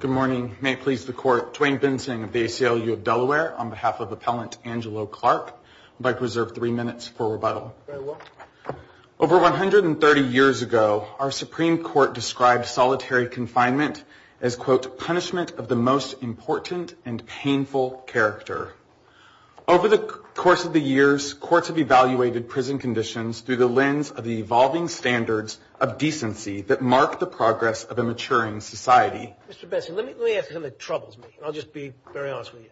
Good morning. May it please the court, Dwayne Bensing of the ACLU of Delaware, on behalf of Appellant Angelo Clark, I'd like to reserve three minutes for rebuttal. Over 130 years ago, our Supreme Court described solitary confinement as, quote, punishment of the most important and painful character. Over the course of the years, courts have evaluated prison conditions through the lens of the evolving standards of decency that mark the progress of a maturing society. Mr. Bensing, let me ask you something that troubles me, and I'll just be very honest with you.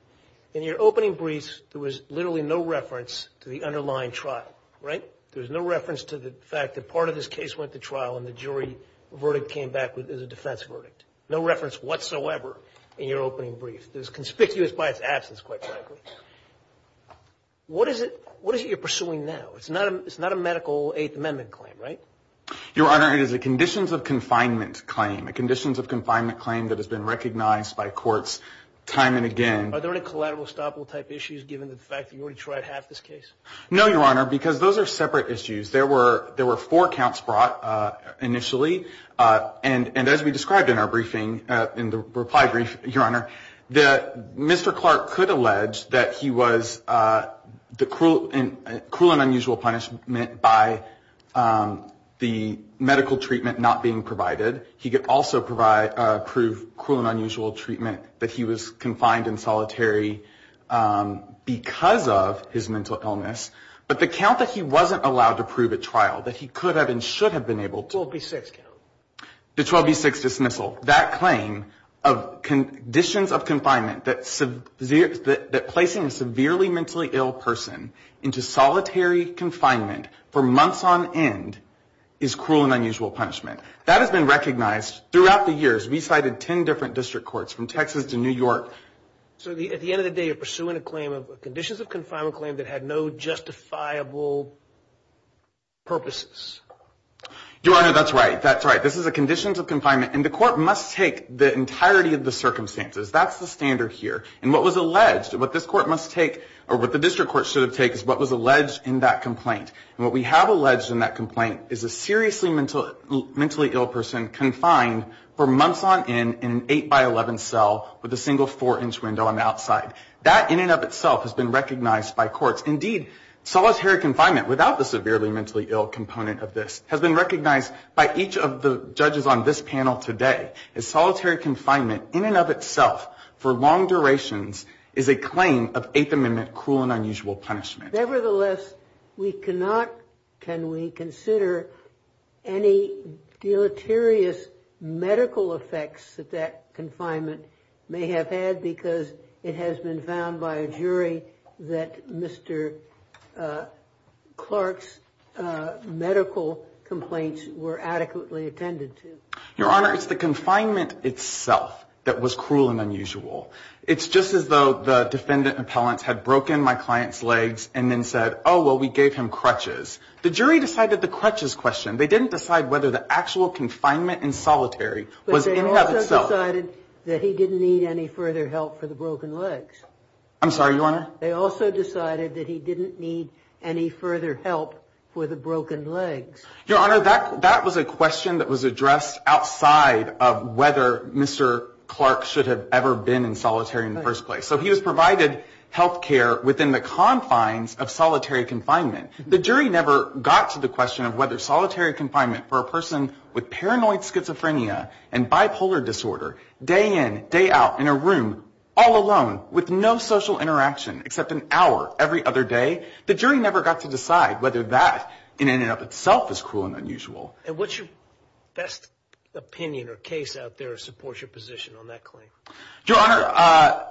In your opening briefs, there was literally no reference to the underlying trial, right? There was no reference to the fact that part of this case went to trial and the jury verdict came back as a defense verdict. No reference whatsoever in your opening brief. It was conspicuous by its absence, quite frankly. What is it you're pursuing now? It's not a medical Eighth Amendment claim, right? Your Honor, it is a conditions of confinement claim, a conditions of confinement claim that has been recognized by courts time and again. Are there any collateral estoppel-type issues given the fact that you already tried half this case? No, Your Honor, because those are separate issues. There were four counts brought initially. And as we described in our briefing, in the reply brief, Your Honor, that Mr. Clark could allege that he was the cruel and unusual punishment by the medical treatment not being provided. He could also prove cruel and unusual treatment that he was confined in solitary because of his mental illness. But the count that he wasn't allowed to prove at trial, that he could have and should have been able to... 12B6 count. The 12B6 dismissal, that claim of conditions of confinement that placing a severely mentally ill person into solitary confinement for months on end is cruel and unusual punishment. That has been recognized throughout the years. We cited ten different district courts from Texas to New York. So at the end of the day, you're pursuing a claim of conditions of confinement claim that had no justifiable purposes. Your Honor, that's right. That's right. This is a conditions of confinement, and the court must take the entirety of the circumstances. That's the standard here. And what was alleged, what this court must take, or what the district court should have taken, is what was alleged in that complaint. And what we have alleged in that complaint is a seriously mentally ill person confined for months on end in an 8 by 11 cell with a single 4-inch window on the outside. That in and of itself has been recognized by courts. Indeed, solitary confinement without the severely mentally ill component of this has been recognized by each of the judges on this panel today. As solitary confinement in and of itself for long durations is a claim of Eighth Amendment cruel and unusual punishment. Nevertheless, we cannot, can we consider any deleterious medical effects that that confinement may have had? Because it has been found by a jury that Mr. Clark's medical complaints were adequately attended to. Your Honor, it's the confinement itself that was cruel and unusual. It's just as though the defendant appellants had broken my client's legs and then said, oh, well, we gave him crutches. The jury decided the crutches question. They didn't decide whether the actual confinement in solitary was in and of itself. But they also decided that he didn't need any further help for the broken legs. I'm sorry, Your Honor? They also decided that he didn't need any further help for the broken legs. Your Honor, that was a question that was addressed outside of whether Mr. Clark should have ever been in solitary in the first place. So he was provided health care within the confines of solitary confinement. The jury never got to the question of whether solitary confinement for a person with paranoid schizophrenia and bipolar disorder, day in, day out, in a room, all alone, with no social interaction except an hour every other day, the jury never got to decide whether that in and of itself is cruel and unusual. And what's your best opinion or case out there that supports your position on that claim? Your Honor,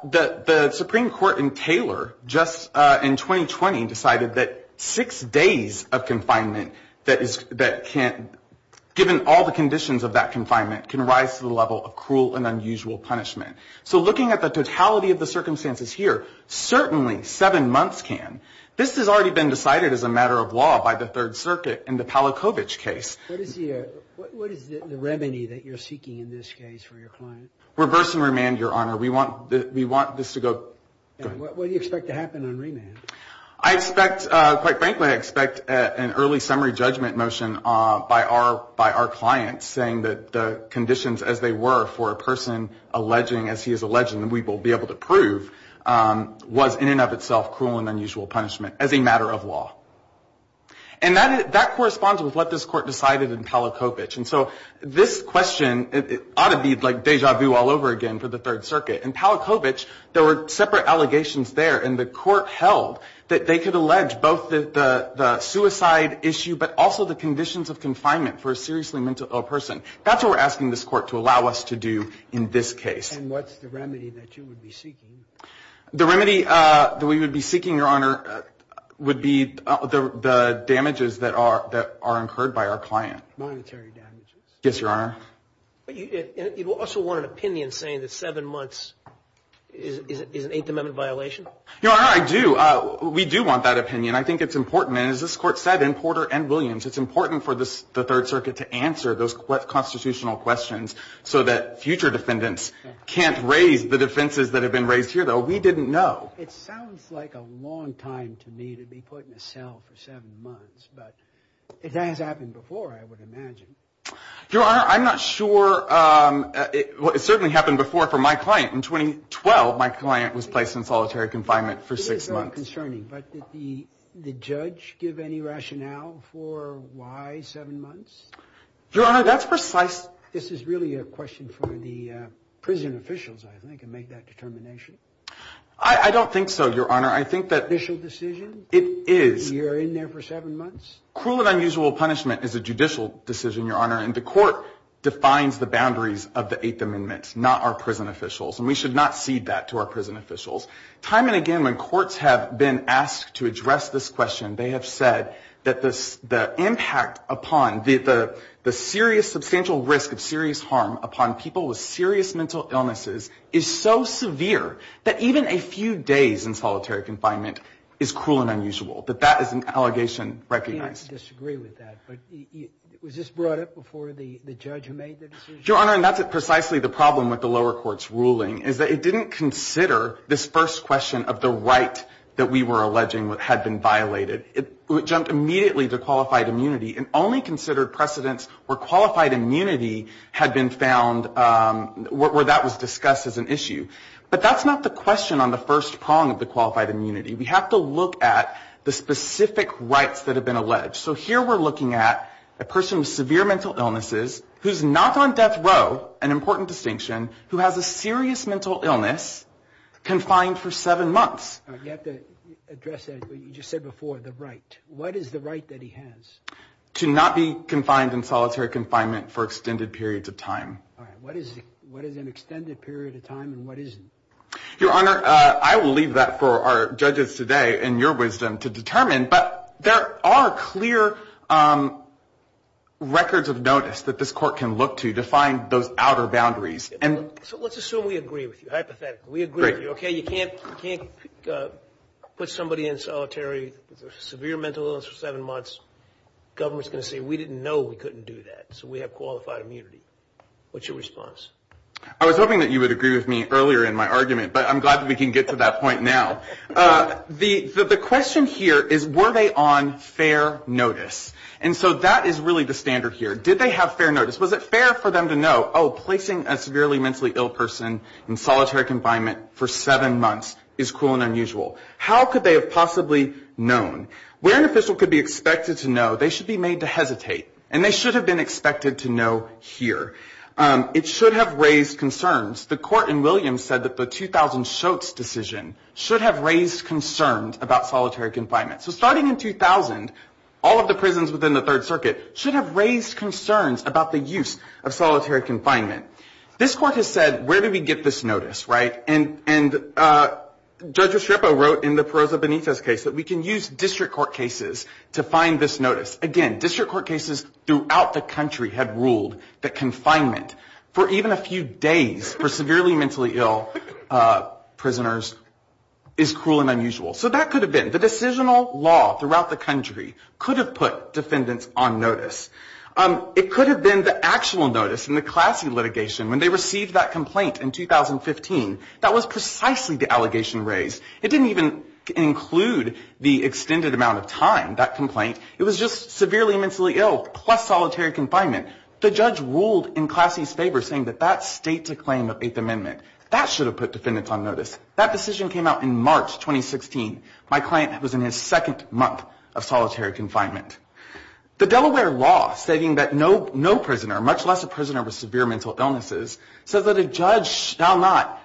the Supreme Court in Taylor just in 2020 decided that six days of confinement that can, given all the conditions of that confinement, can rise to the level of cruel and unusual punishment. So looking at the totality of the circumstances here, certainly seven months can. This has already been decided as a matter of law by the Third Circuit in the Palachowicz case. What is the remedy that you're seeking in this case for your client? Reverse and remand, Your Honor. We want this to go. What do you expect to happen on remand? I expect, quite frankly, I expect an early summary judgment motion by our clients, saying that the conditions as they were for a person alleging, as he is alleging that we will be able to prove, was in and of itself cruel and unusual punishment, as a matter of law. And that corresponds with what this Court decided in Palachowicz. And so this question ought to be like deja vu all over again for the Third Circuit. In Palachowicz, there were separate allegations there. And the Court held that they could allege both the suicide issue, but also the conditions of confinement for a seriously mentally ill person. That's what we're asking this Court to allow us to do in this case. And what's the remedy that you would be seeking? The remedy that we would be seeking, Your Honor, would be the damages that are incurred by our client. Monetary damages? Yes, Your Honor. But you also want an opinion saying that seven months is an Eighth Amendment violation? Your Honor, I do. We do want that opinion. I think it's important. And as this Court said in Porter and Williams, it's important for the Third Circuit to answer those constitutional questions so that future defendants can't raise the defenses that have been raised here, though. We didn't know. It sounds like a long time to me to be put in a cell for seven months. But it has happened before, I would imagine. Your Honor, I'm not sure. It certainly happened before for my client. In 2012, my client was placed in solitary confinement for six months. This is concerning, but did the judge give any rationale for why seven months? Your Honor, that's precise. This is really a question for the prison officials, I think, and make that determination. I don't think so, Your Honor. I think that... Judicial decision? It is. You're in there for seven months? Cruel and unusual punishment is a judicial decision, Your Honor, and the Court defines the boundaries of the Eighth Amendment, not our prison officials. And we should not cede that to our prison officials. Time and again, when courts have been asked to address this question, they have said that the impact upon the serious substantial risk of serious harm upon people with serious mental illnesses is so severe that even a few days in solitary confinement is cruel and unusual, that that is an allegation recognized. I disagree with that, but was this brought up before the judge who made the decision? Your Honor, and that's precisely the problem with the lower court's ruling, is that it didn't consider this first question of the right that we were alleging had been violated. It jumped immediately to qualified immunity and only considered precedents where qualified immunity had been found, where that was discussed as an issue. But that's not the question on the first prong of the qualified immunity. We have to look at the specific rights that have been alleged. So here we're looking at a person with severe mental illnesses, who's not on death row, an important distinction, who has a serious mental illness, confined for seven months. You have to address that, what you just said before, the right. What is the right that he has? To not be confined in solitary confinement for extended periods of time. All right, what is an extended period of time and what isn't? Your Honor, I will leave that for our judges today, in your wisdom, to determine. But there are clear records of notice that this court can look to to find those outer boundaries. So let's assume we agree with you, hypothetically. We agree with you, okay? You can't put somebody in solitary with a severe mental illness for seven months. Government's going to say, we didn't know we couldn't do that, so we have qualified immunity. What's your response? I was hoping that you would agree with me earlier in my argument, but I'm glad that we can get to that point now. The question here is, were they on fair notice? And so that is really the standard here. Did they have fair notice? Was it fair for them to know, oh, placing a severely mentally ill person in solitary confinement for seven months is cool and unusual? How could they have possibly known? Where an official could be expected to know, they should be made to hesitate. And they should have been expected to know here. It should have raised concerns. The court in Williams said that the 2000 Schultz decision should have raised concerns about solitary confinement. So starting in 2000, all of the prisons within the Third Circuit should have raised concerns about the use of solitary confinement. This court has said, where do we get this notice, right? And Judge Estrepo wrote in the Perroza Benitez case that we can use district court cases to find this notice. Again, district court cases throughout the country had ruled that confinement for even a few days for severely mentally ill prisoners is cruel and unusual. So that could have been. The decisional law throughout the country could have put defendants on notice. It could have been the actual notice in the Classy litigation when they received that complaint in 2015. That was precisely the allegation raised. It didn't even include the extended amount of time, that complaint. It was just severely mentally ill plus solitary confinement. The judge ruled in Classy's favor saying that that states a claim of Eighth Amendment. That should have put defendants on notice. That decision came out in March 2016. My client was in his second month of solitary confinement. The Delaware law stating that no prisoner, much less a prisoner with severe mental illnesses, says that a judge shall not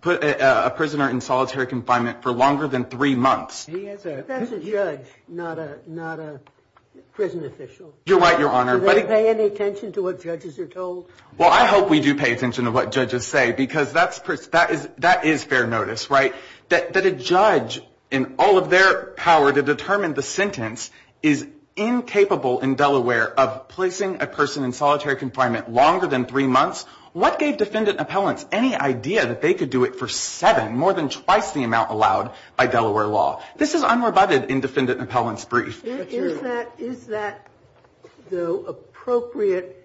put a prisoner in solitary confinement for longer than three months. That's a judge, not a prison official. You're right, Your Honor. Do they pay any attention to what judges are told? Well, I hope we do pay attention to what judges say because that is fair notice. That a judge in all of their power to determine the sentence is incapable in Delaware of placing a person in solitary confinement longer than three months. What gave defendant appellants any idea that they could do it for seven, more than twice the amount allowed by Delaware law? This is unrebutted in defendant appellants' brief. Is that the appropriate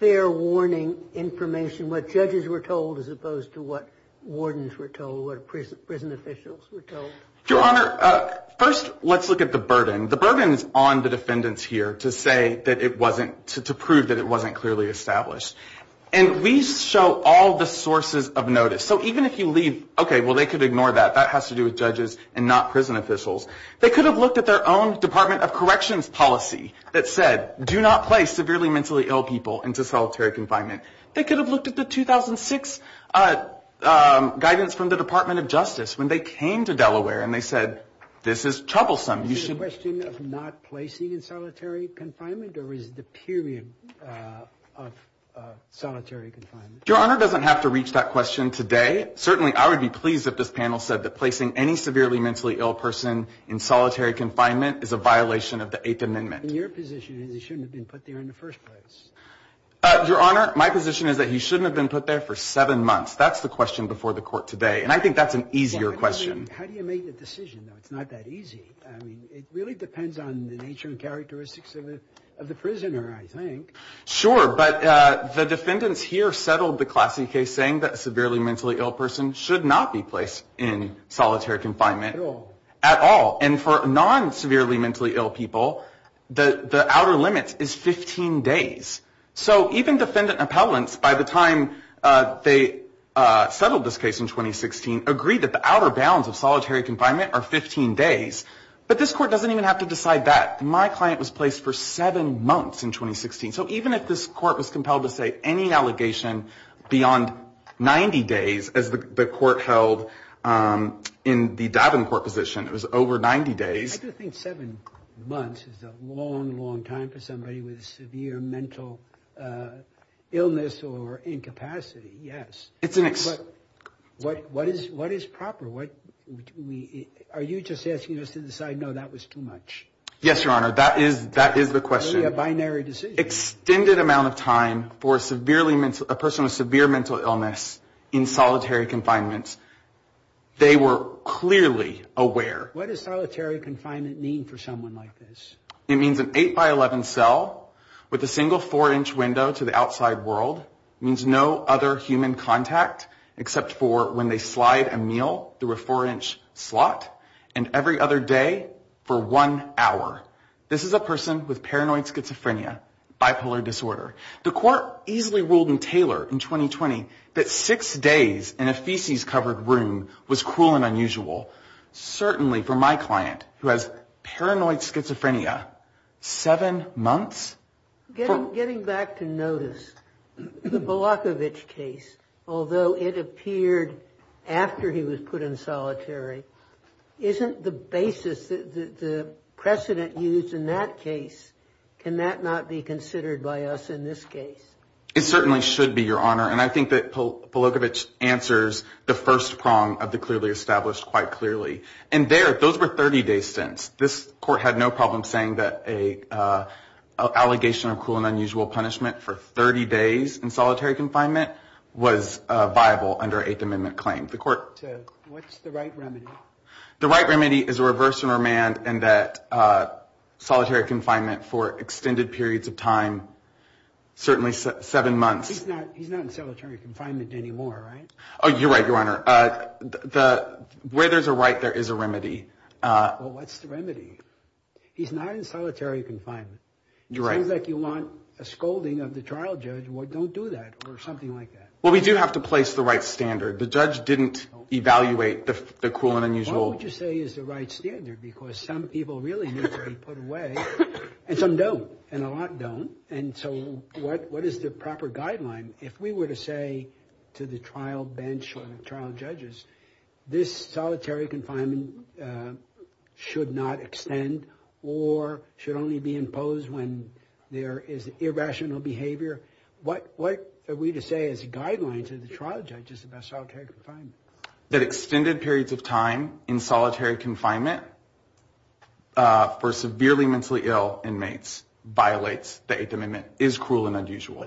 fair warning information, what judges were told as opposed to what wardens were told, what prison officials were told? Your Honor, first let's look at the burden. The burden is on the defendants here to say that it wasn't, to prove that it wasn't clearly established. And we show all the sources of notice. So even if you leave, okay, well, they could ignore that. That has to do with judges and not prison officials. They could have looked at their own Department of Corrections policy that said, do not place severely mentally ill people into solitary confinement. They could have looked at the 2006 guidance from the Department of Justice when they came to Delaware and they said, this is troublesome. Is it a question of not placing in solitary confinement or is it the period of solitary confinement? Your Honor doesn't have to reach that question today. Certainly I would be pleased if this panel said that placing any severely mentally ill person in solitary confinement is a violation of the Eighth Amendment. And your position is he shouldn't have been put there in the first place? Your Honor, my position is that he shouldn't have been put there for seven months. That's the question before the court today. And I think that's an easier question. How do you make the decision, though? It's not that easy. Sure. But the defendants here settled the Classy case saying that a severely mentally ill person should not be placed in solitary confinement at all. And for non-severely mentally ill people, the outer limit is 15 days. So even defendant appellants, by the time they settled this case in 2016, agreed that the outer bounds of solitary confinement are 15 days. But this court doesn't even have to decide that. My client was placed for seven months in 2016. So even if this court was compelled to say any allegation beyond 90 days, as the court held in the Davenport position, it was over 90 days. I do think seven months is a long, long time for somebody with severe mental illness or incapacity, yes. But what is proper? Are you just asking us to decide, no, that was too much? Yes, Your Honor. That is the question. It's clearly a binary decision. Extended amount of time for a person with severe mental illness in solitary confinement. They were clearly aware. What does solitary confinement mean for someone like this? It means an 8 by 11 cell with a single 4-inch window to the outside world. It means no other human contact except for when they slide a meal through a 4-inch slot and every other day for one hour. This is a person with paranoid schizophrenia, bipolar disorder. The court easily ruled in Taylor in 2020 that six days in a feces-covered room was cruel and unusual. Certainly for my client, who has paranoid schizophrenia, seven months? Getting back to notice, the Polakovich case, although it appeared after he was put in solitary, isn't the basis, the precedent used in that case, can that not be considered by us in this case? It certainly should be, Your Honor. And I think that Polakovich answers the first prong of the clearly established quite clearly. And there, those were 30 days since. This court had no problem saying that an allegation of cruel and unusual punishment for 30 days in solitary confinement was viable under an Eighth Amendment claim. What's the right remedy? The right remedy is a reverse enromend and that solitary confinement for extended periods of time, certainly seven months. He's not in solitary confinement anymore, right? Oh, you're right, Your Honor. Where there's a right, there is a remedy. Well, what's the remedy? He's not in solitary confinement. You're right. It seems like you want a scolding of the trial judge, well, don't do that, or something like that. Well, we do have to place the right standard. The judge didn't evaluate the cruel and unusual. What would you say is the right standard? Because some people really need to be put away, and some don't, and a lot don't. And so what is the proper guideline? If we were to say to the trial bench or the trial judges this solitary confinement should not extend or should only be imposed when there is irrational behavior, what are we to say as a guideline to the trial judges about solitary confinement? That extended periods of time in solitary confinement for severely mentally ill inmates violates the Eighth Amendment is cruel and unusual.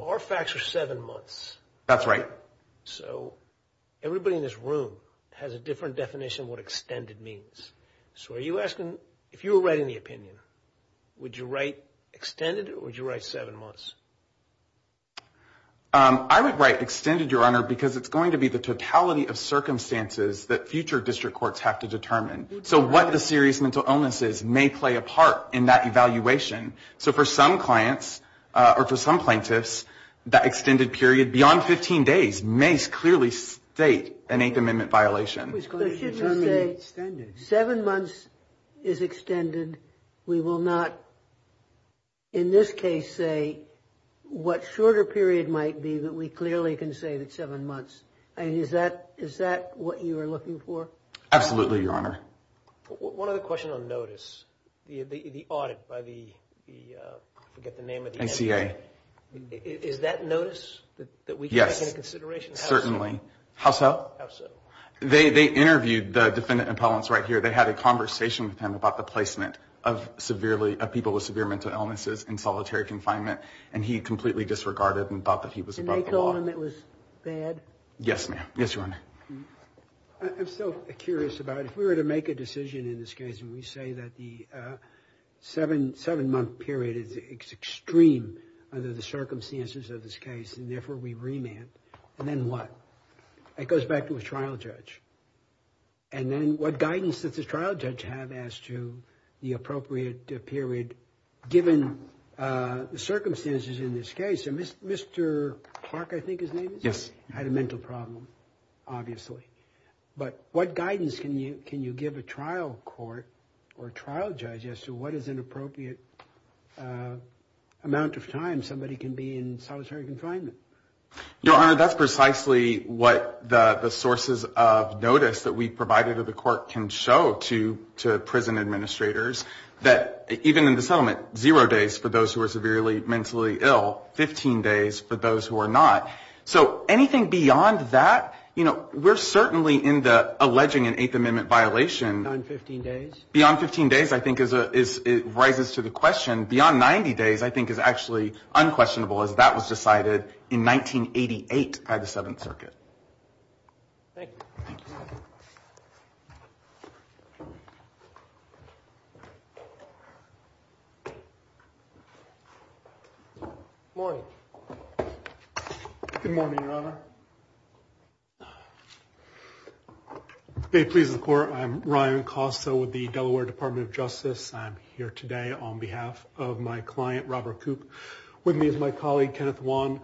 Our facts are seven months. That's right. So everybody in this room has a different definition of what extended means. So are you asking, if you were writing the opinion, would you write extended or would you write seven months? I would write extended, Your Honor, because it's going to be the totality of circumstances that future district courts have to determine. So what the serious mental illness is may play a part in that evaluation. So for some clients or for some plaintiffs, that extended period beyond 15 days may clearly state an Eighth Amendment violation. So shouldn't we say seven months is extended? We will not in this case say what shorter period might be, but we clearly can say that seven months. I mean, is that what you are looking for? Absolutely, Your Honor. One other question on notice. The audit by the, I forget the name of the entity. NCA. Is that notice that we can take into consideration? Yes, certainly. How so? How so? They interviewed the defendant appellants right here. They had a conversation with him about the placement of people with severe mental illnesses in solitary confinement, and he completely disregarded and thought that he was above the law. And they told him it was bad? Yes, ma'am. Yes, Your Honor. I'm still curious about if we were to make a decision in this case, and we say that the seven-month period is extreme under the circumstances of this case, and therefore we remand, and then what? It goes back to a trial judge. And then what guidance does the trial judge have as to the appropriate period given the circumstances in this case? And Mr. Clark, I think his name is? Yes. He had a mental problem, obviously. But what guidance can you give a trial court or a trial judge as to what is an appropriate amount of time somebody can be in solitary confinement? Your Honor, that's precisely what the sources of notice that we provided to the court can show to prison administrators, that even in the settlement, zero days for those who are severely mentally ill, 15 days for those who are not. So anything beyond that, you know, we're certainly in the alleging an Eighth Amendment violation. Beyond 15 days? Beyond 15 days, I think, rises to the question. Beyond 90 days, I think, is actually unquestionable, as that was decided in 1988 by the Seventh Circuit. Thank you. Thank you, sir. Good morning. Good morning, Your Honor. May it please the Court, I'm Ryan Costa with the Delaware Department of Justice. I'm here today on behalf of my client, Robert Koop. With me is my colleague, Kenneth Wan.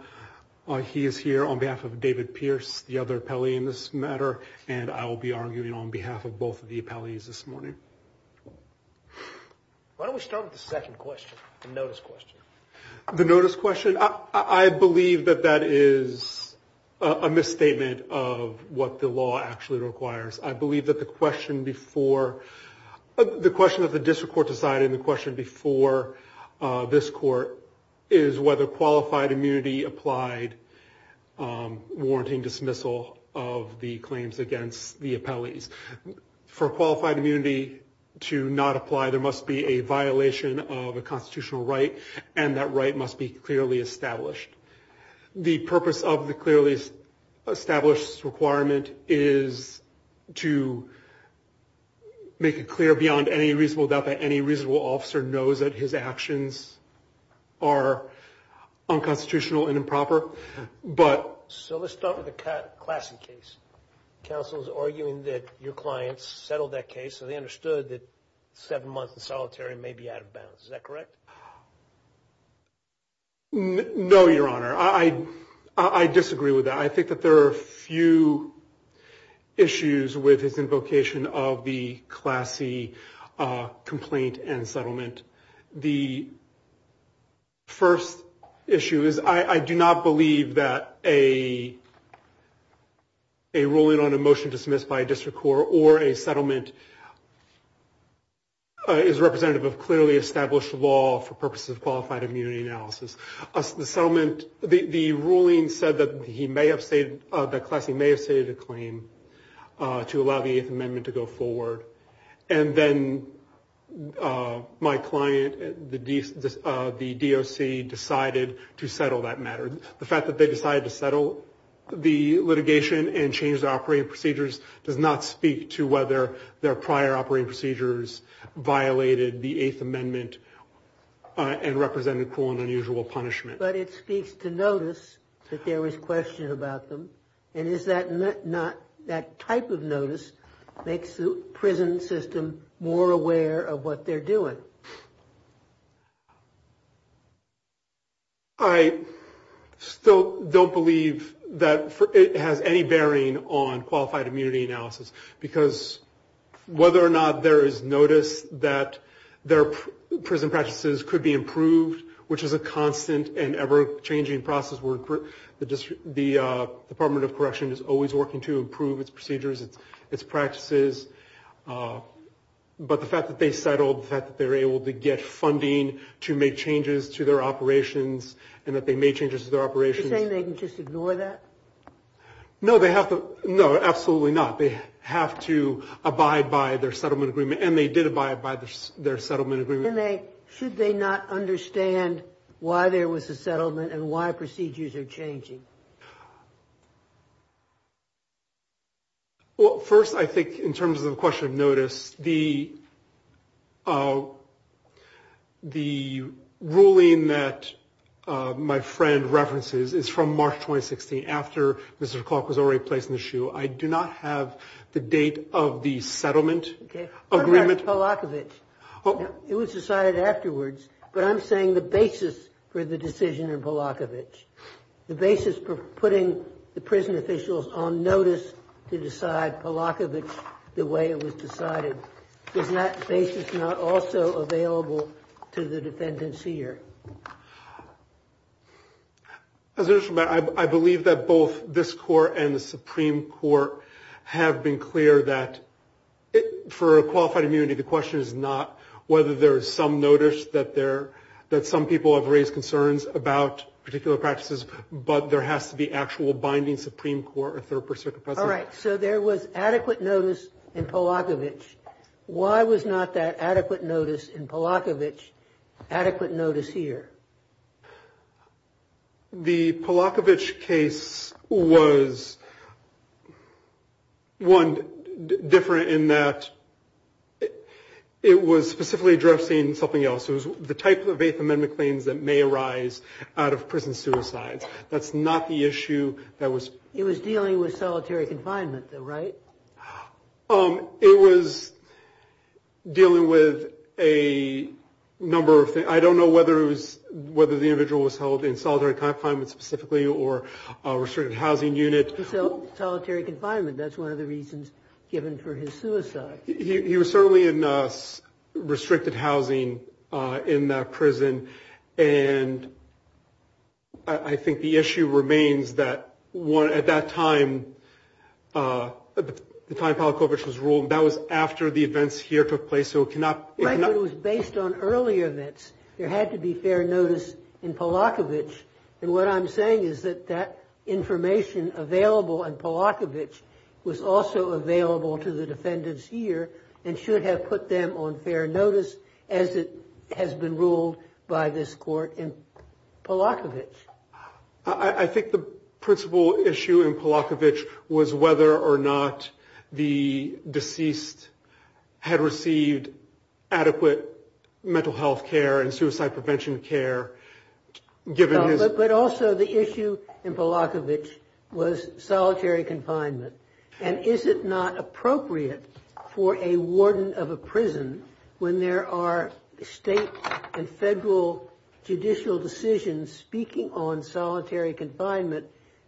He is here on behalf of David Pierce, the other appellee in this matter. And I will be arguing on behalf of both of the appellees this morning. Why don't we start with the second question, the notice question. The notice question? I believe that that is a misstatement of what the law actually requires. I believe that the question before, the question that the district court decided and the question before this court, is whether qualified immunity applied warranting dismissal of the claims against the appellees. For qualified immunity to not apply, there must be a violation of a constitutional right, and that right must be clearly established. The purpose of the clearly established requirement is to make it clear beyond any reasonable doubt that any reasonable officer knows that his actions are unconstitutional and improper. So let's start with the Classey case. Counsel is arguing that your clients settled that case, so they understood that seven months in solitary may be out of bounds. Is that correct? No, Your Honor. I disagree with that. I think that there are a few issues with his invocation of the Classey complaint and settlement. The first issue is I do not believe that a ruling on a motion dismissed by a district court or a settlement is representative of clearly established law for purposes of qualified immunity analysis. The ruling said that Classey may have stated a claim to allow the Eighth Amendment to go forward, and then my client, the DOC, decided to settle that matter. The fact that they decided to settle the litigation and change the operating procedures does not speak to whether their prior operating procedures violated the Eighth Amendment and represented cruel and unusual punishment. But it speaks to notice that there was question about them, and is that not that type of notice makes the prison system more aware of what they're doing? I still don't believe that it has any bearing on qualified immunity analysis because whether or not there is notice that their prison practices could be improved, which is a constant and ever-changing process. The Department of Correction is always working to improve its procedures, its practices. But the fact that they settled, the fact that they were able to get funding to make changes to their operations and that they made changes to their operations. Are you saying they can just ignore that? No, absolutely not. They have to abide by their settlement agreement, and they did abide by their settlement agreement. Should they not understand why there was a settlement and why procedures are changing? Well, first, I think in terms of the question of notice, the ruling that my friend references is from March 2016, after Mr. Clark was already placed on the shoe. I do not have the date of the settlement agreement. What about Polakovich? It was decided afterwards, but I'm saying the basis for the decision in Polakovich, the basis for putting the prison officials on notice to decide Polakovich the way it was decided. Is that basis not also available to the defendants here? As a matter of fact, I believe that both this court and the Supreme Court have been clear that for a qualified immunity, the question is not whether there is some notice that some people have raised concerns about particular practices, but there has to be actual binding Supreme Court or third-person. All right. So there was adequate notice in Polakovich. Why was not that adequate notice in Polakovich adequate notice here? The Polakovich case was, one, different in that it was specifically addressing something else. It was the type of Eighth Amendment claims that may arise out of prison suicides. That's not the issue that was… It was dealing with solitary confinement, though, right? It was dealing with a number of things. I don't know whether the individual was held in solitary confinement specifically or a restricted housing unit. Solitary confinement. That's one of the reasons given for his suicide. And I think the issue remains that at that time, the time Polakovich was ruled, that was after the events here took place. So it cannot… Right, but it was based on earlier events. There had to be fair notice in Polakovich. And what I'm saying is that that information available in Polakovich was also available to the defendants here and should have put them on fair notice as it has been ruled by this court in Polakovich. I think the principal issue in Polakovich was whether or not the deceased had received adequate mental health care and suicide prevention care given his… But also the issue in Polakovich was solitary confinement. And is it not appropriate for a warden of a prison when there are state and federal judicial decisions speaking on solitary confinement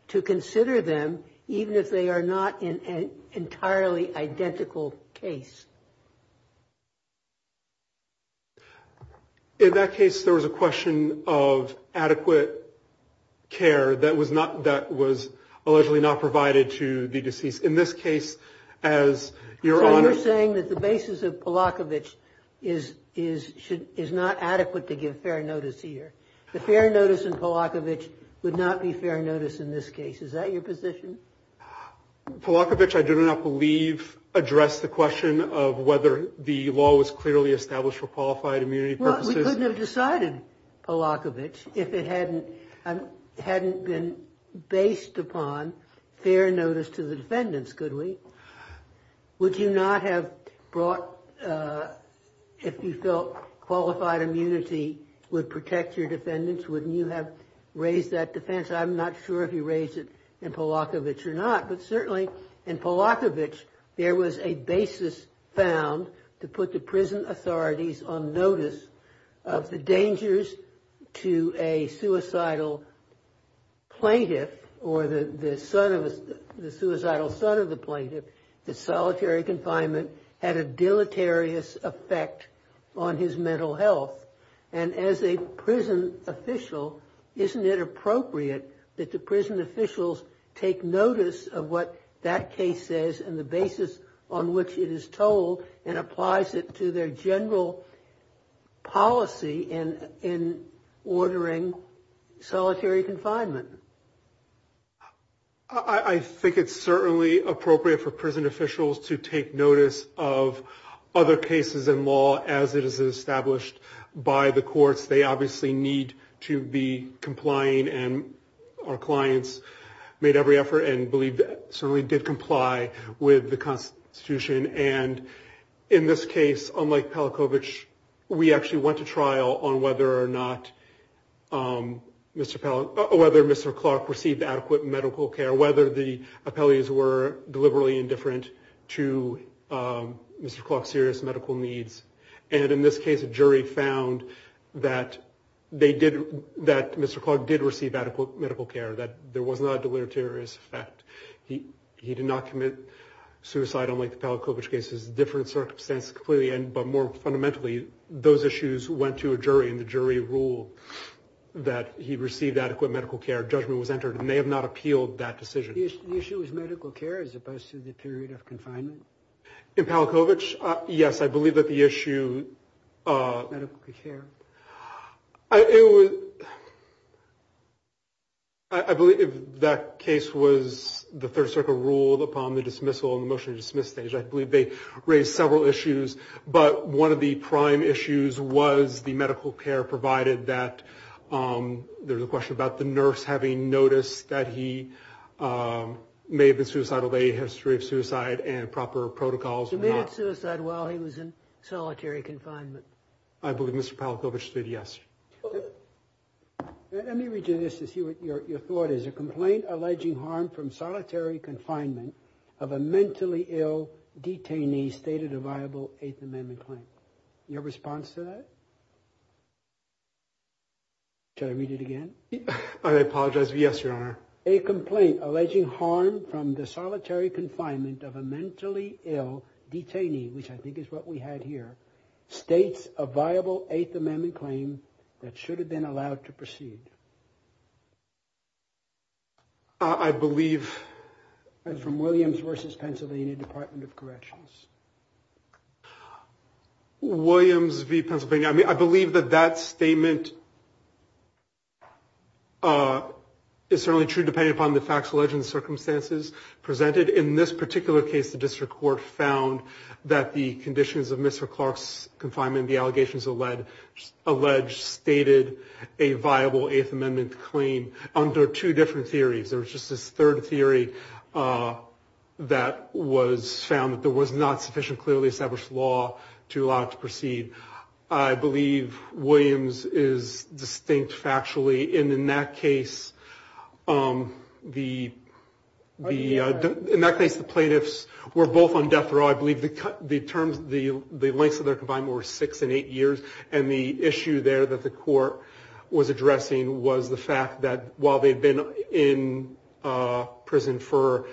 to consider them even if they are not in an entirely identical case? In that case, there was a question of adequate care that was allegedly not provided to the deceased. In this case, as your Honor… So you're saying that the basis of Polakovich is not adequate to give fair notice here. The fair notice in Polakovich would not be fair notice in this case. Is that your position? Polakovich, I do not believe, addressed the question of whether the law was clearly established for qualified immunity purposes. Well, we couldn't have decided Polakovich if it hadn't been based upon fair notice to the defendants, could we? Would you not have brought… if you felt qualified immunity would protect your defendants, wouldn't you have raised that defense? I'm not sure if you raised it in Polakovich or not, but certainly in Polakovich, there was a basis found to put the prison authorities on notice of the dangers to a suicidal plaintiff or the suicidal son of the plaintiff that solitary confinement had a deleterious effect on his mental health. And as a prison official, isn't it appropriate that the prison officials take notice of what that case says and the basis on which it is told and applies it to their general policy in ordering solitary confinement? I think it's certainly appropriate for prison officials to take notice of other cases in law as it is established. By the courts, they obviously need to be complying, and our clients made every effort and believe that certainly did comply with the Constitution. And in this case, unlike Polakovich, we actually went to trial on whether or not Mr. Clark received adequate medical care, whether the appellees were deliberately indifferent to Mr. Clark's serious medical needs. And in this case, a jury found that Mr. Clark did receive adequate medical care, that there was not a deleterious effect. He did not commit suicide, unlike the Polakovich case. It's a different circumstance, clearly, but more fundamentally, those issues went to a jury, and the jury ruled that he received adequate medical care. Judgment was entered, and they have not appealed that decision. The issue is medical care as opposed to the period of confinement? In Polakovich, yes, I believe that the issue... Medical care? I believe that case was the Third Circuit ruled upon the dismissal and the motion to dismiss stage. I believe they raised several issues, but one of the prime issues was the medical care, provided that there's a question about the nurse having noticed that he may have been suicidal, a history of suicide, and proper protocols were not... He committed suicide while he was in solitary confinement. I believe Mr. Polakovich did, yes. Let me read you this to see what your thought is. A complaint alleging harm from solitary confinement of a mentally ill detainee stated a viable Eighth Amendment claim. Your response to that? I apologize, yes, Your Honor. A complaint alleging harm from the solitary confinement of a mentally ill detainee, which I think is what we had here, states a viable Eighth Amendment claim that should have been allowed to proceed. I believe... And from Williams v. Pennsylvania Department of Corrections. Williams v. Pennsylvania. I believe that that statement is certainly true, depending upon the facts, legends, circumstances presented. In this particular case, the district court found that the conditions of Mr. Clark's confinement, the allegations alleged, stated a viable Eighth Amendment claim under two different theories. There was just this third theory that was found that there was not sufficiently established law to allow it to proceed. I believe Williams is distinct factually. And in that case, the plaintiffs were both on death row. I believe the lengths of their confinement were six and eight years. And the issue there that the court was addressing was the fact that while they'd been in prison for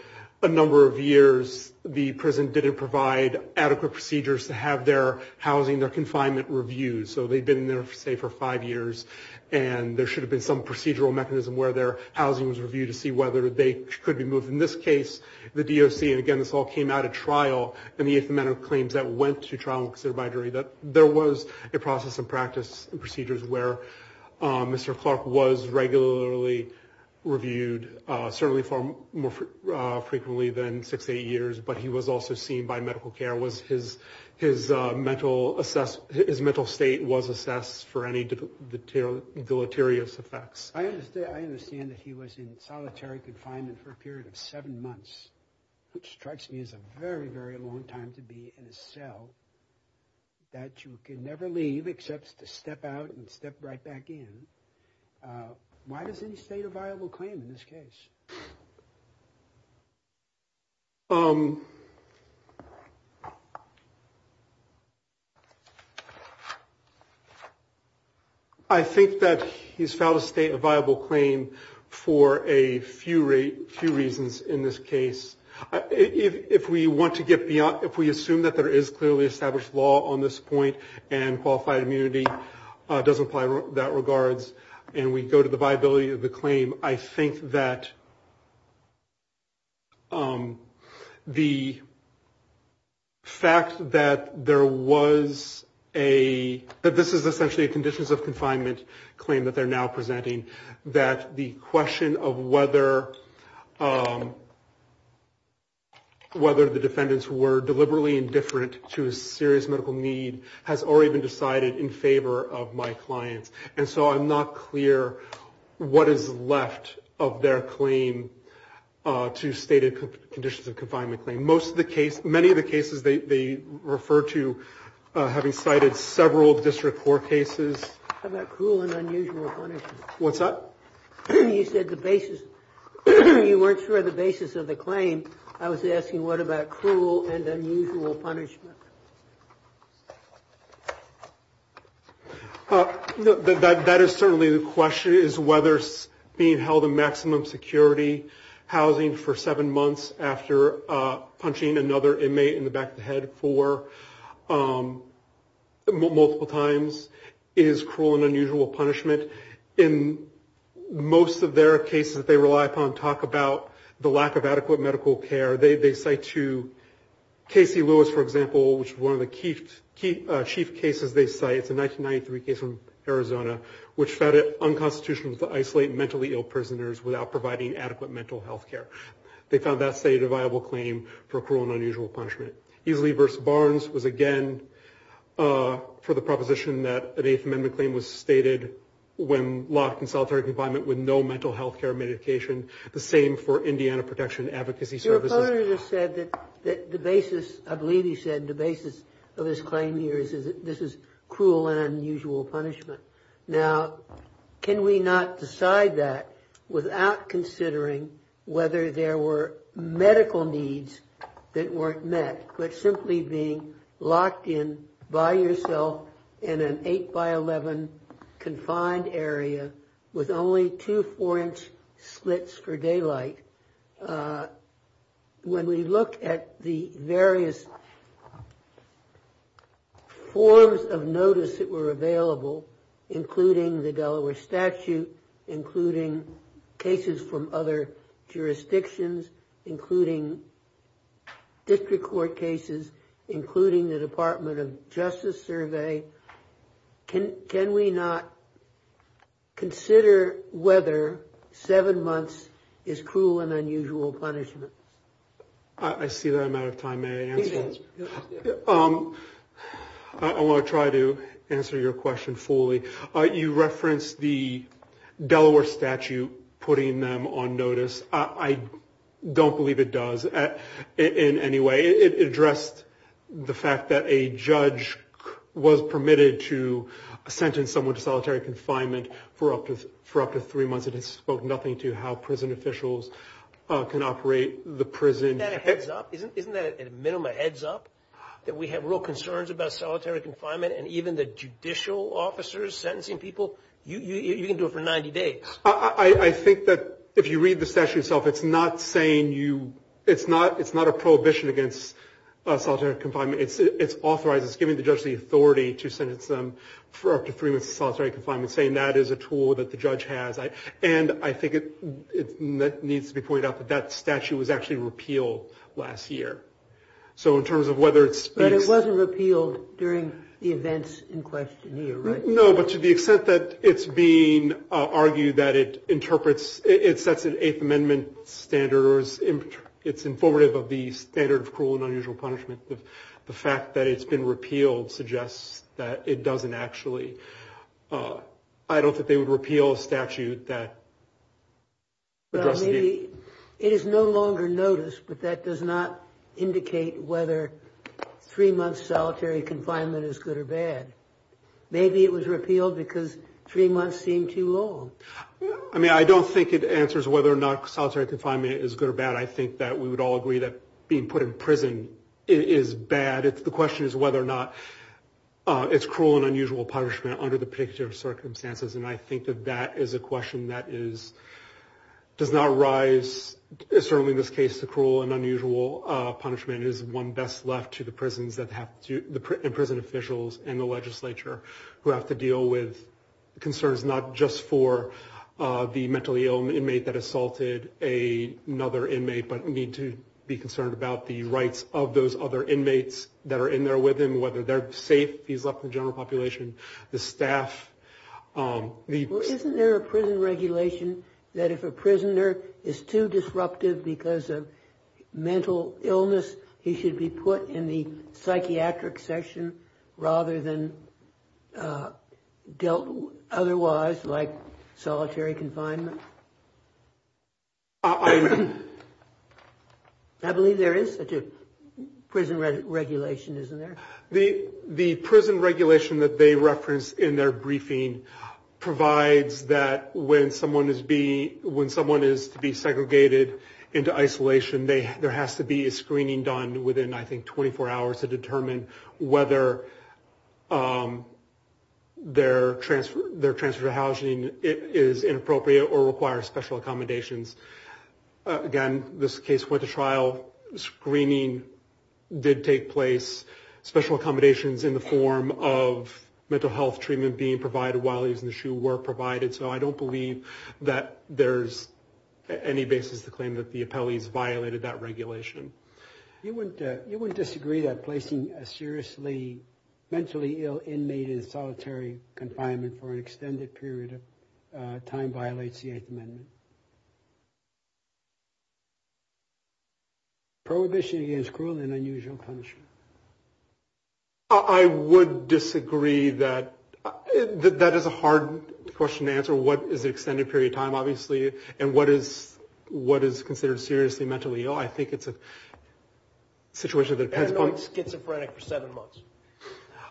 a number of years, the prison didn't provide adequate procedures to have their housing, their confinement reviewed. So they'd been there, say, for five years, and there should have been some procedural mechanism where their housing was reviewed to see whether they could be moved. In this case, the DOC, and again, this all came out at trial, in the Eighth Amendment claims that went to trial and were considered by jury, that there was a process of practice and procedures where Mr. Clark was regularly reviewed, certainly far more frequently than six to eight years, but he was also seen by medical care. His mental state was assessed for any deleterious effects. I understand that he was in solitary confinement for a period of seven months, which strikes me as a very, very long time to be in a cell that you can never leave except to step out and step right back in. Why does he state a viable claim in this case? I think that he's found a state of viable claim for a few reasons in this case. If we want to get beyond, if we assume that there is clearly established law on this point and qualified immunity does apply in that regards, and we go to the viability of the claim, I think that the fact that there was a, that this is essentially a conditions of confinement claim that they're now presenting, that the question of whether the defendants were deliberately indifferent to a serious medical need has already been decided in favor of my clients. And so I'm not clear what is left of their claim to state a conditions of confinement claim. Most of the case, many of the cases they refer to having cited several district court cases. How about cruel and unusual punishment? What's that? You said the basis, you weren't sure of the basis of the claim. I was asking what about cruel and unusual punishment? That is certainly the question, is whether being held in maximum security housing for seven months after punching another inmate in the back of the head for multiple times is cruel and unusual punishment. In most of their cases that they rely upon talk about the lack of adequate medical care. They cite to Casey Lewis, for example, which is one of the chief cases they cite. It's a 1993 case from Arizona, which found it unconstitutional to isolate mentally ill prisoners without providing adequate mental health care. They found that stated a viable claim for cruel and unusual punishment. Easley v. Barnes was again for the proposition that an Eighth Amendment claim was stated when locked in solitary confinement with no mental health care medication. The same for Indiana Protection Advocacy Services. Your opponent has said that the basis, I believe he said the basis of his claim here is that this is cruel and unusual punishment. Now, can we not decide that without considering whether there were medical needs that weren't met, but simply being locked in by yourself in an eight by 11 confined area with only two four inch slits for daylight. When we look at the various forms of notice that were available, including the Delaware statute, including cases from other jurisdictions, including district court cases, including the Department of Justice survey. Can can we not consider whether seven months is cruel and unusual punishment? I see that I'm out of time. I want to try to answer your question fully. You referenced the Delaware statute putting them on notice. I don't believe it does in any way. It addressed the fact that a judge was permitted to sentence someone to solitary confinement for up to for up to three months. It has spoken nothing to how prison officials can operate the prison heads up. Isn't that a minimum heads up that we have real concerns about solitary confinement? And even the judicial officers sentencing people, you can do it for 90 days. I think that if you read the statute itself, it's not saying you it's not it's not a prohibition against solitary confinement. It's it's authorized. It's giving the judge the authority to sentence them for up to three months of solitary confinement, saying that is a tool that the judge has. And I think it needs to be pointed out that that statute was actually repealed last year. So in terms of whether it's but it wasn't repealed during the events in question. No, but to the extent that it's being argued that it interprets, it sets an Eighth Amendment standard. It's informative of the standard of cruel and unusual punishment. The fact that it's been repealed suggests that it doesn't actually. I don't think they would repeal a statute that. Maybe it is no longer noticed, but that does not indicate whether three months solitary confinement is good or bad. Maybe it was repealed because three months seemed too long. I mean, I don't think it answers whether or not solitary confinement is good or bad. I think that we would all agree that being put in prison is bad. The question is whether or not it's cruel and unusual punishment under the picture of circumstances. And I think that that is a question that is does not rise. Certainly this case, the cruel and unusual punishment is one best left to the prisons that have to the prison officials and the legislature who have to deal with concerns, not just for the mentally ill inmate that assaulted a another inmate, but need to be concerned about the rights of those other inmates that are in there with him, whether they're safe. He's left the general population, the staff. Isn't there a prison regulation that if a prisoner is too disruptive because of mental illness, he should be put in the psychiatric section rather than dealt otherwise like solitary confinement? I believe there is such a prison regulation, isn't there? The prison regulation that they referenced in their briefing provides that when someone is to be segregated into isolation, there has to be a screening done within, I think, 24 hours to determine whether their transfer to housing is inappropriate or require special accommodations. Again, this case went to trial. Screening did take place. Special accommodations in the form of mental health treatment being provided while he was in the shoe were provided. So I don't believe that there's any basis to claim that the appellees violated that regulation. You wouldn't disagree that placing a seriously mentally ill inmate in solitary confinement for an extended period of time violates the Eighth Amendment? Prohibition against cruel and unusual punishment. I would disagree that that is a hard question to answer. What is an extended period of time, obviously, and what is considered seriously mentally ill? I think it's a situation that depends upon... Annoying schizophrenic for seven months.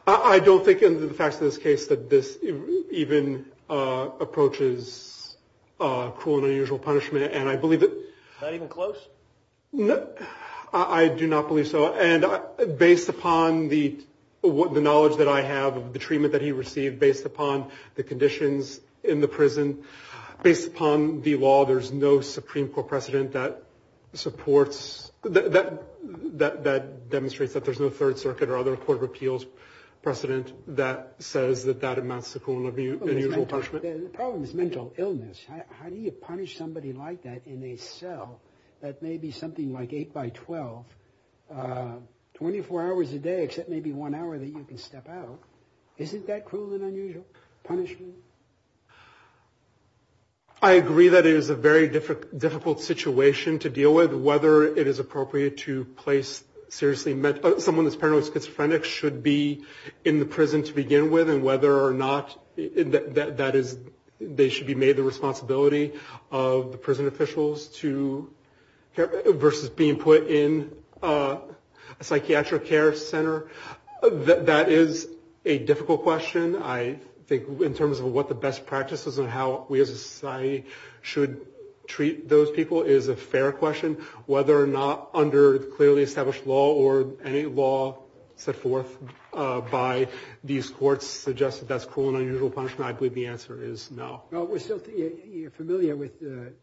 I don't think in the facts of this case that this even approaches cruel and unusual punishment, and I believe that... Not even close? I do not believe so. And based upon the knowledge that I have of the treatment that he received, based upon the conditions in the prison, based upon the law, there's no Supreme Court precedent that supports... That demonstrates that there's no Third Circuit or other court of appeals precedent that says that that amounts to cruel and unusual punishment. The problem is mental illness. How do you punish somebody like that in a cell that may be something like 8 by 12, 24 hours a day, except maybe one hour that you can step out? Isn't that cruel and unusual punishment? I agree that it is a very difficult situation to deal with, whether it is appropriate to place seriously... Someone that's paranoid schizophrenic should be in the prison to begin with, and whether or not that is... They should be made the responsibility of the prison officials to... Versus being put in a psychiatric care center. That is a difficult question. I think in terms of what the best practices and how we as a society should treat those people is a fair question. Whether or not under clearly established law or any law set forth by these courts suggests that that's cruel and unusual punishment. I believe the answer is no. You're familiar with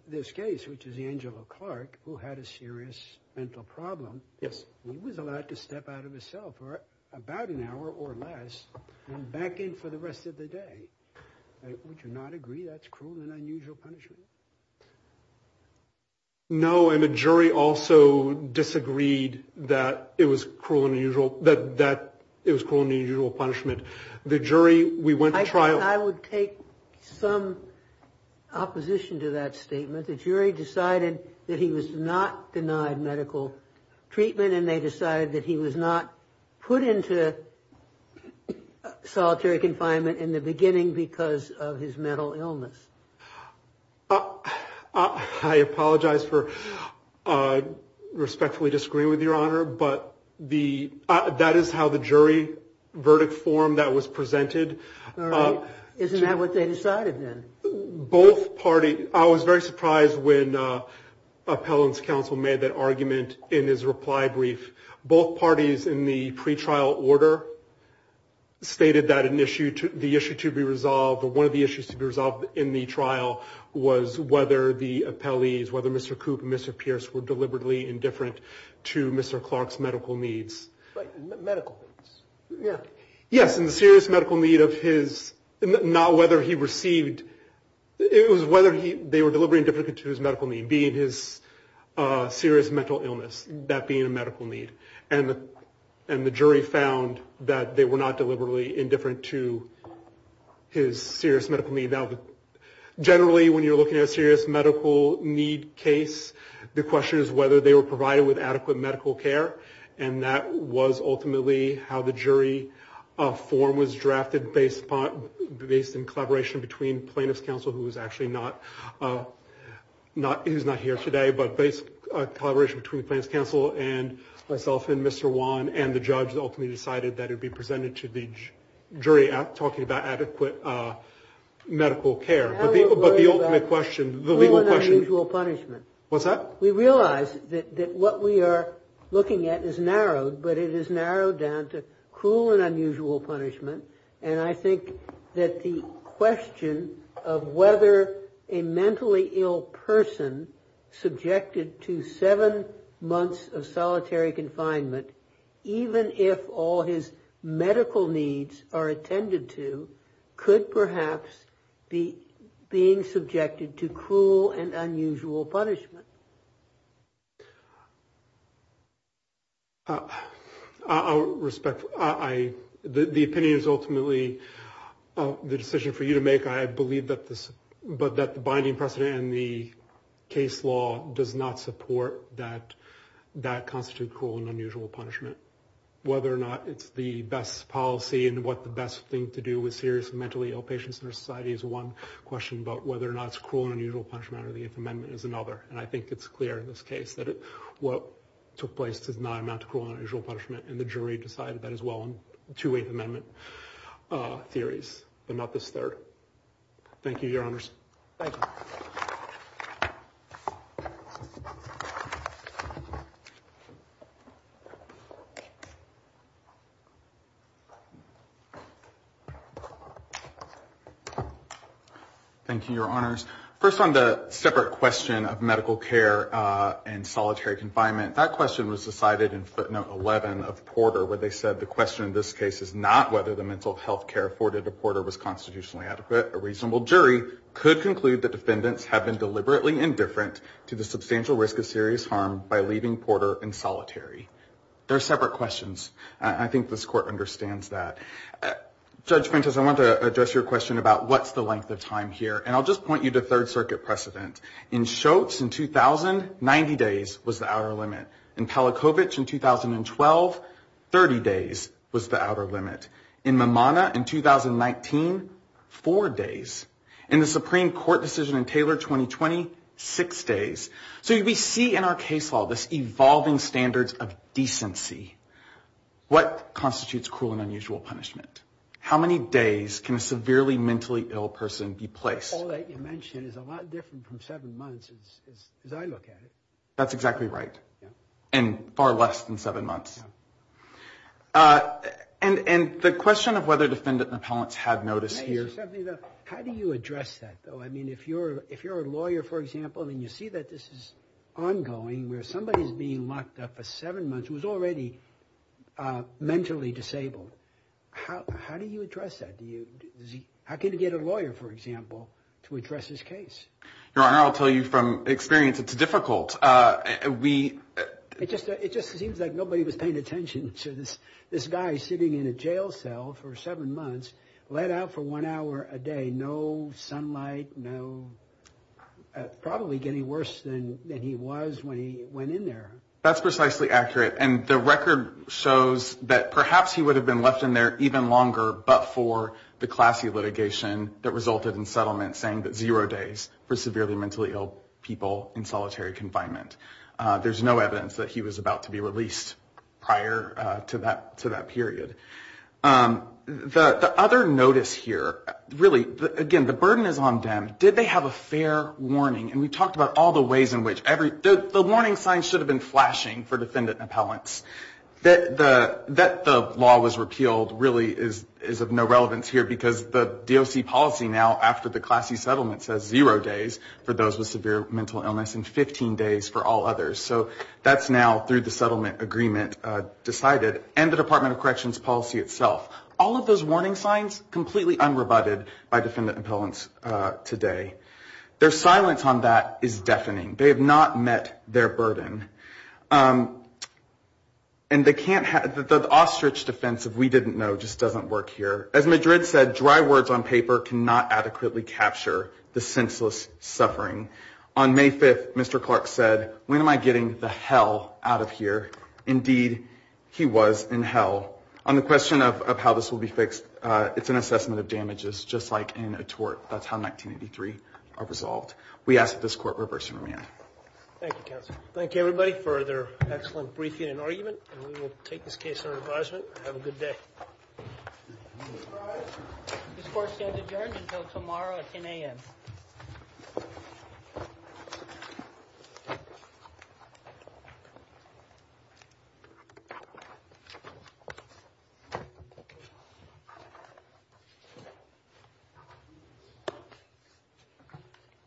this case, which is Angela Clark, who had a serious mental problem. Yes. He was allowed to step out of a cell for about an hour or less and back in for the rest of the day. Would you not agree that's cruel and unusual punishment? No, and the jury also disagreed that it was cruel and unusual punishment. The jury... I would take some opposition to that statement. The jury decided that he was not denied medical treatment, and they decided that he was not put into solitary confinement in the beginning because of his mental illness. I apologize for respectfully disagreeing with Your Honor, but that is how the jury verdict form that was presented... Isn't that what they decided then? Both parties... I was very surprised when appellant's counsel made that argument in his reply brief. Both parties in the pretrial order stated that the issue to be resolved, or one of the issues to be resolved in the trial, was whether the appellees, whether Mr. Koop and Mr. Pierce were deliberately indifferent to Mr. Clark's medical needs. Medical needs. Yes, and the serious medical need of his... Not whether he received... It was whether they were deliberately indifferent to his medical need, being his serious mental illness, that being a medical need. And the jury found that they were not deliberately indifferent to his serious medical need. Now, generally, when you're looking at a serious medical need case, the question is whether they were provided with adequate medical care, and that was ultimately how the jury form was drafted, based in collaboration between plaintiff's counsel, who is actually not here today, but based in collaboration between plaintiff's counsel and myself and Mr. Wan, and the judge ultimately decided that it would be presented to the jury talking about adequate medical care. But the ultimate question, the legal question... What's that? Well, we realize that what we are looking at is narrowed, but it is narrowed down to cruel and unusual punishment, and I think that the question of whether a mentally ill person subjected to seven months of solitary confinement, even if all his medical needs are attended to, could perhaps be being subjected to cruel and unusual punishment. I'll respect... The opinion is ultimately the decision for you to make. I believe that the binding precedent in the case law does not support that that constitutes cruel and unusual punishment. Whether or not it's the best policy and what the best thing to do with seriously mentally ill patients in our society is one question, but whether or not it's cruel and unusual punishment under the Eighth Amendment is another, and I think it's clear in this case that what took place does not amount to cruel and unusual punishment, and the jury decided that as well in two Eighth Amendment theories, but not this third. Thank you, Your Honors. Thank you. Thank you, Your Honors. First on the separate question of medical care and solitary confinement, that question was decided in footnote 11 of Porter where they said, the question in this case is not whether the mental health care afforded to Porter was constitutionally adequate. A reasonable jury could conclude that defendants have been deliberately indifferent to the substantial risk of serious harm by leaving Porter in solitary. They're separate questions. I think this Court understands that. Judge Ventas, I want to address your question about what's the length of time here, and I'll just point you to Third Circuit precedent. In Schultz in 2000, 90 days was the outer limit. In Palachowicz in 2012, 30 days was the outer limit. In Mimana in 2019, four days. In the Supreme Court decision in Taylor 2020, six days. So we see in our case law this evolving standards of decency. What constitutes cruel and unusual punishment? How many days can a severely mentally ill person be placed? All that you mention is a lot different from seven months as I look at it. That's exactly right. And far less than seven months. And the question of whether defendant and appellants had notice here. How do you address that, though? I mean, if you're a lawyer, for example, and you see that this is ongoing, where somebody is being locked up for seven months who is already mentally disabled, how do you address that? How can you get a lawyer, for example, to address this case? Your Honor, I'll tell you from experience, it's difficult. It just seems like nobody was paying attention to this guy sitting in a jail cell for seven months, let out for one hour a day, no sunlight, probably getting worse than he was when he went in there. That's precisely accurate. And the record shows that perhaps he would have been left in there even longer but for the classy litigation that resulted in settlement saying that zero days for severely mentally ill people in solitary confinement. There's no evidence that he was about to be released prior to that period. The other notice here, really, again, the burden is on them. Did they have a fair warning? And we talked about all the ways in which the warning signs should have been flashing for defendant and appellants. That the law was repealed really is of no relevance here because the DOC policy now after the classy settlement says zero days for those with severe mental illness and 15 days for all others. So that's now through the settlement agreement decided and the Department of Corrections policy itself. All of those warning signs completely unrebutted by defendant and appellants today. Their silence on that is deafening. They have not met their burden. And the ostrich defense of we didn't know just doesn't work here. As Madrid said, dry words on paper cannot adequately capture the senseless suffering. On May 5th, Mr. Clark said, when am I getting the hell out of here? Indeed, he was in hell. On the question of how this will be fixed, it's an assessment of damages just like in a tort. That's how 1983 are resolved. We ask that this court reverse and remand. Thank you, counsel. Thank you, everybody, for their excellent briefing and argument. And we will take this case under advisement. Have a good day. This court stands adjourned until tomorrow at 10 a.m. Thank you.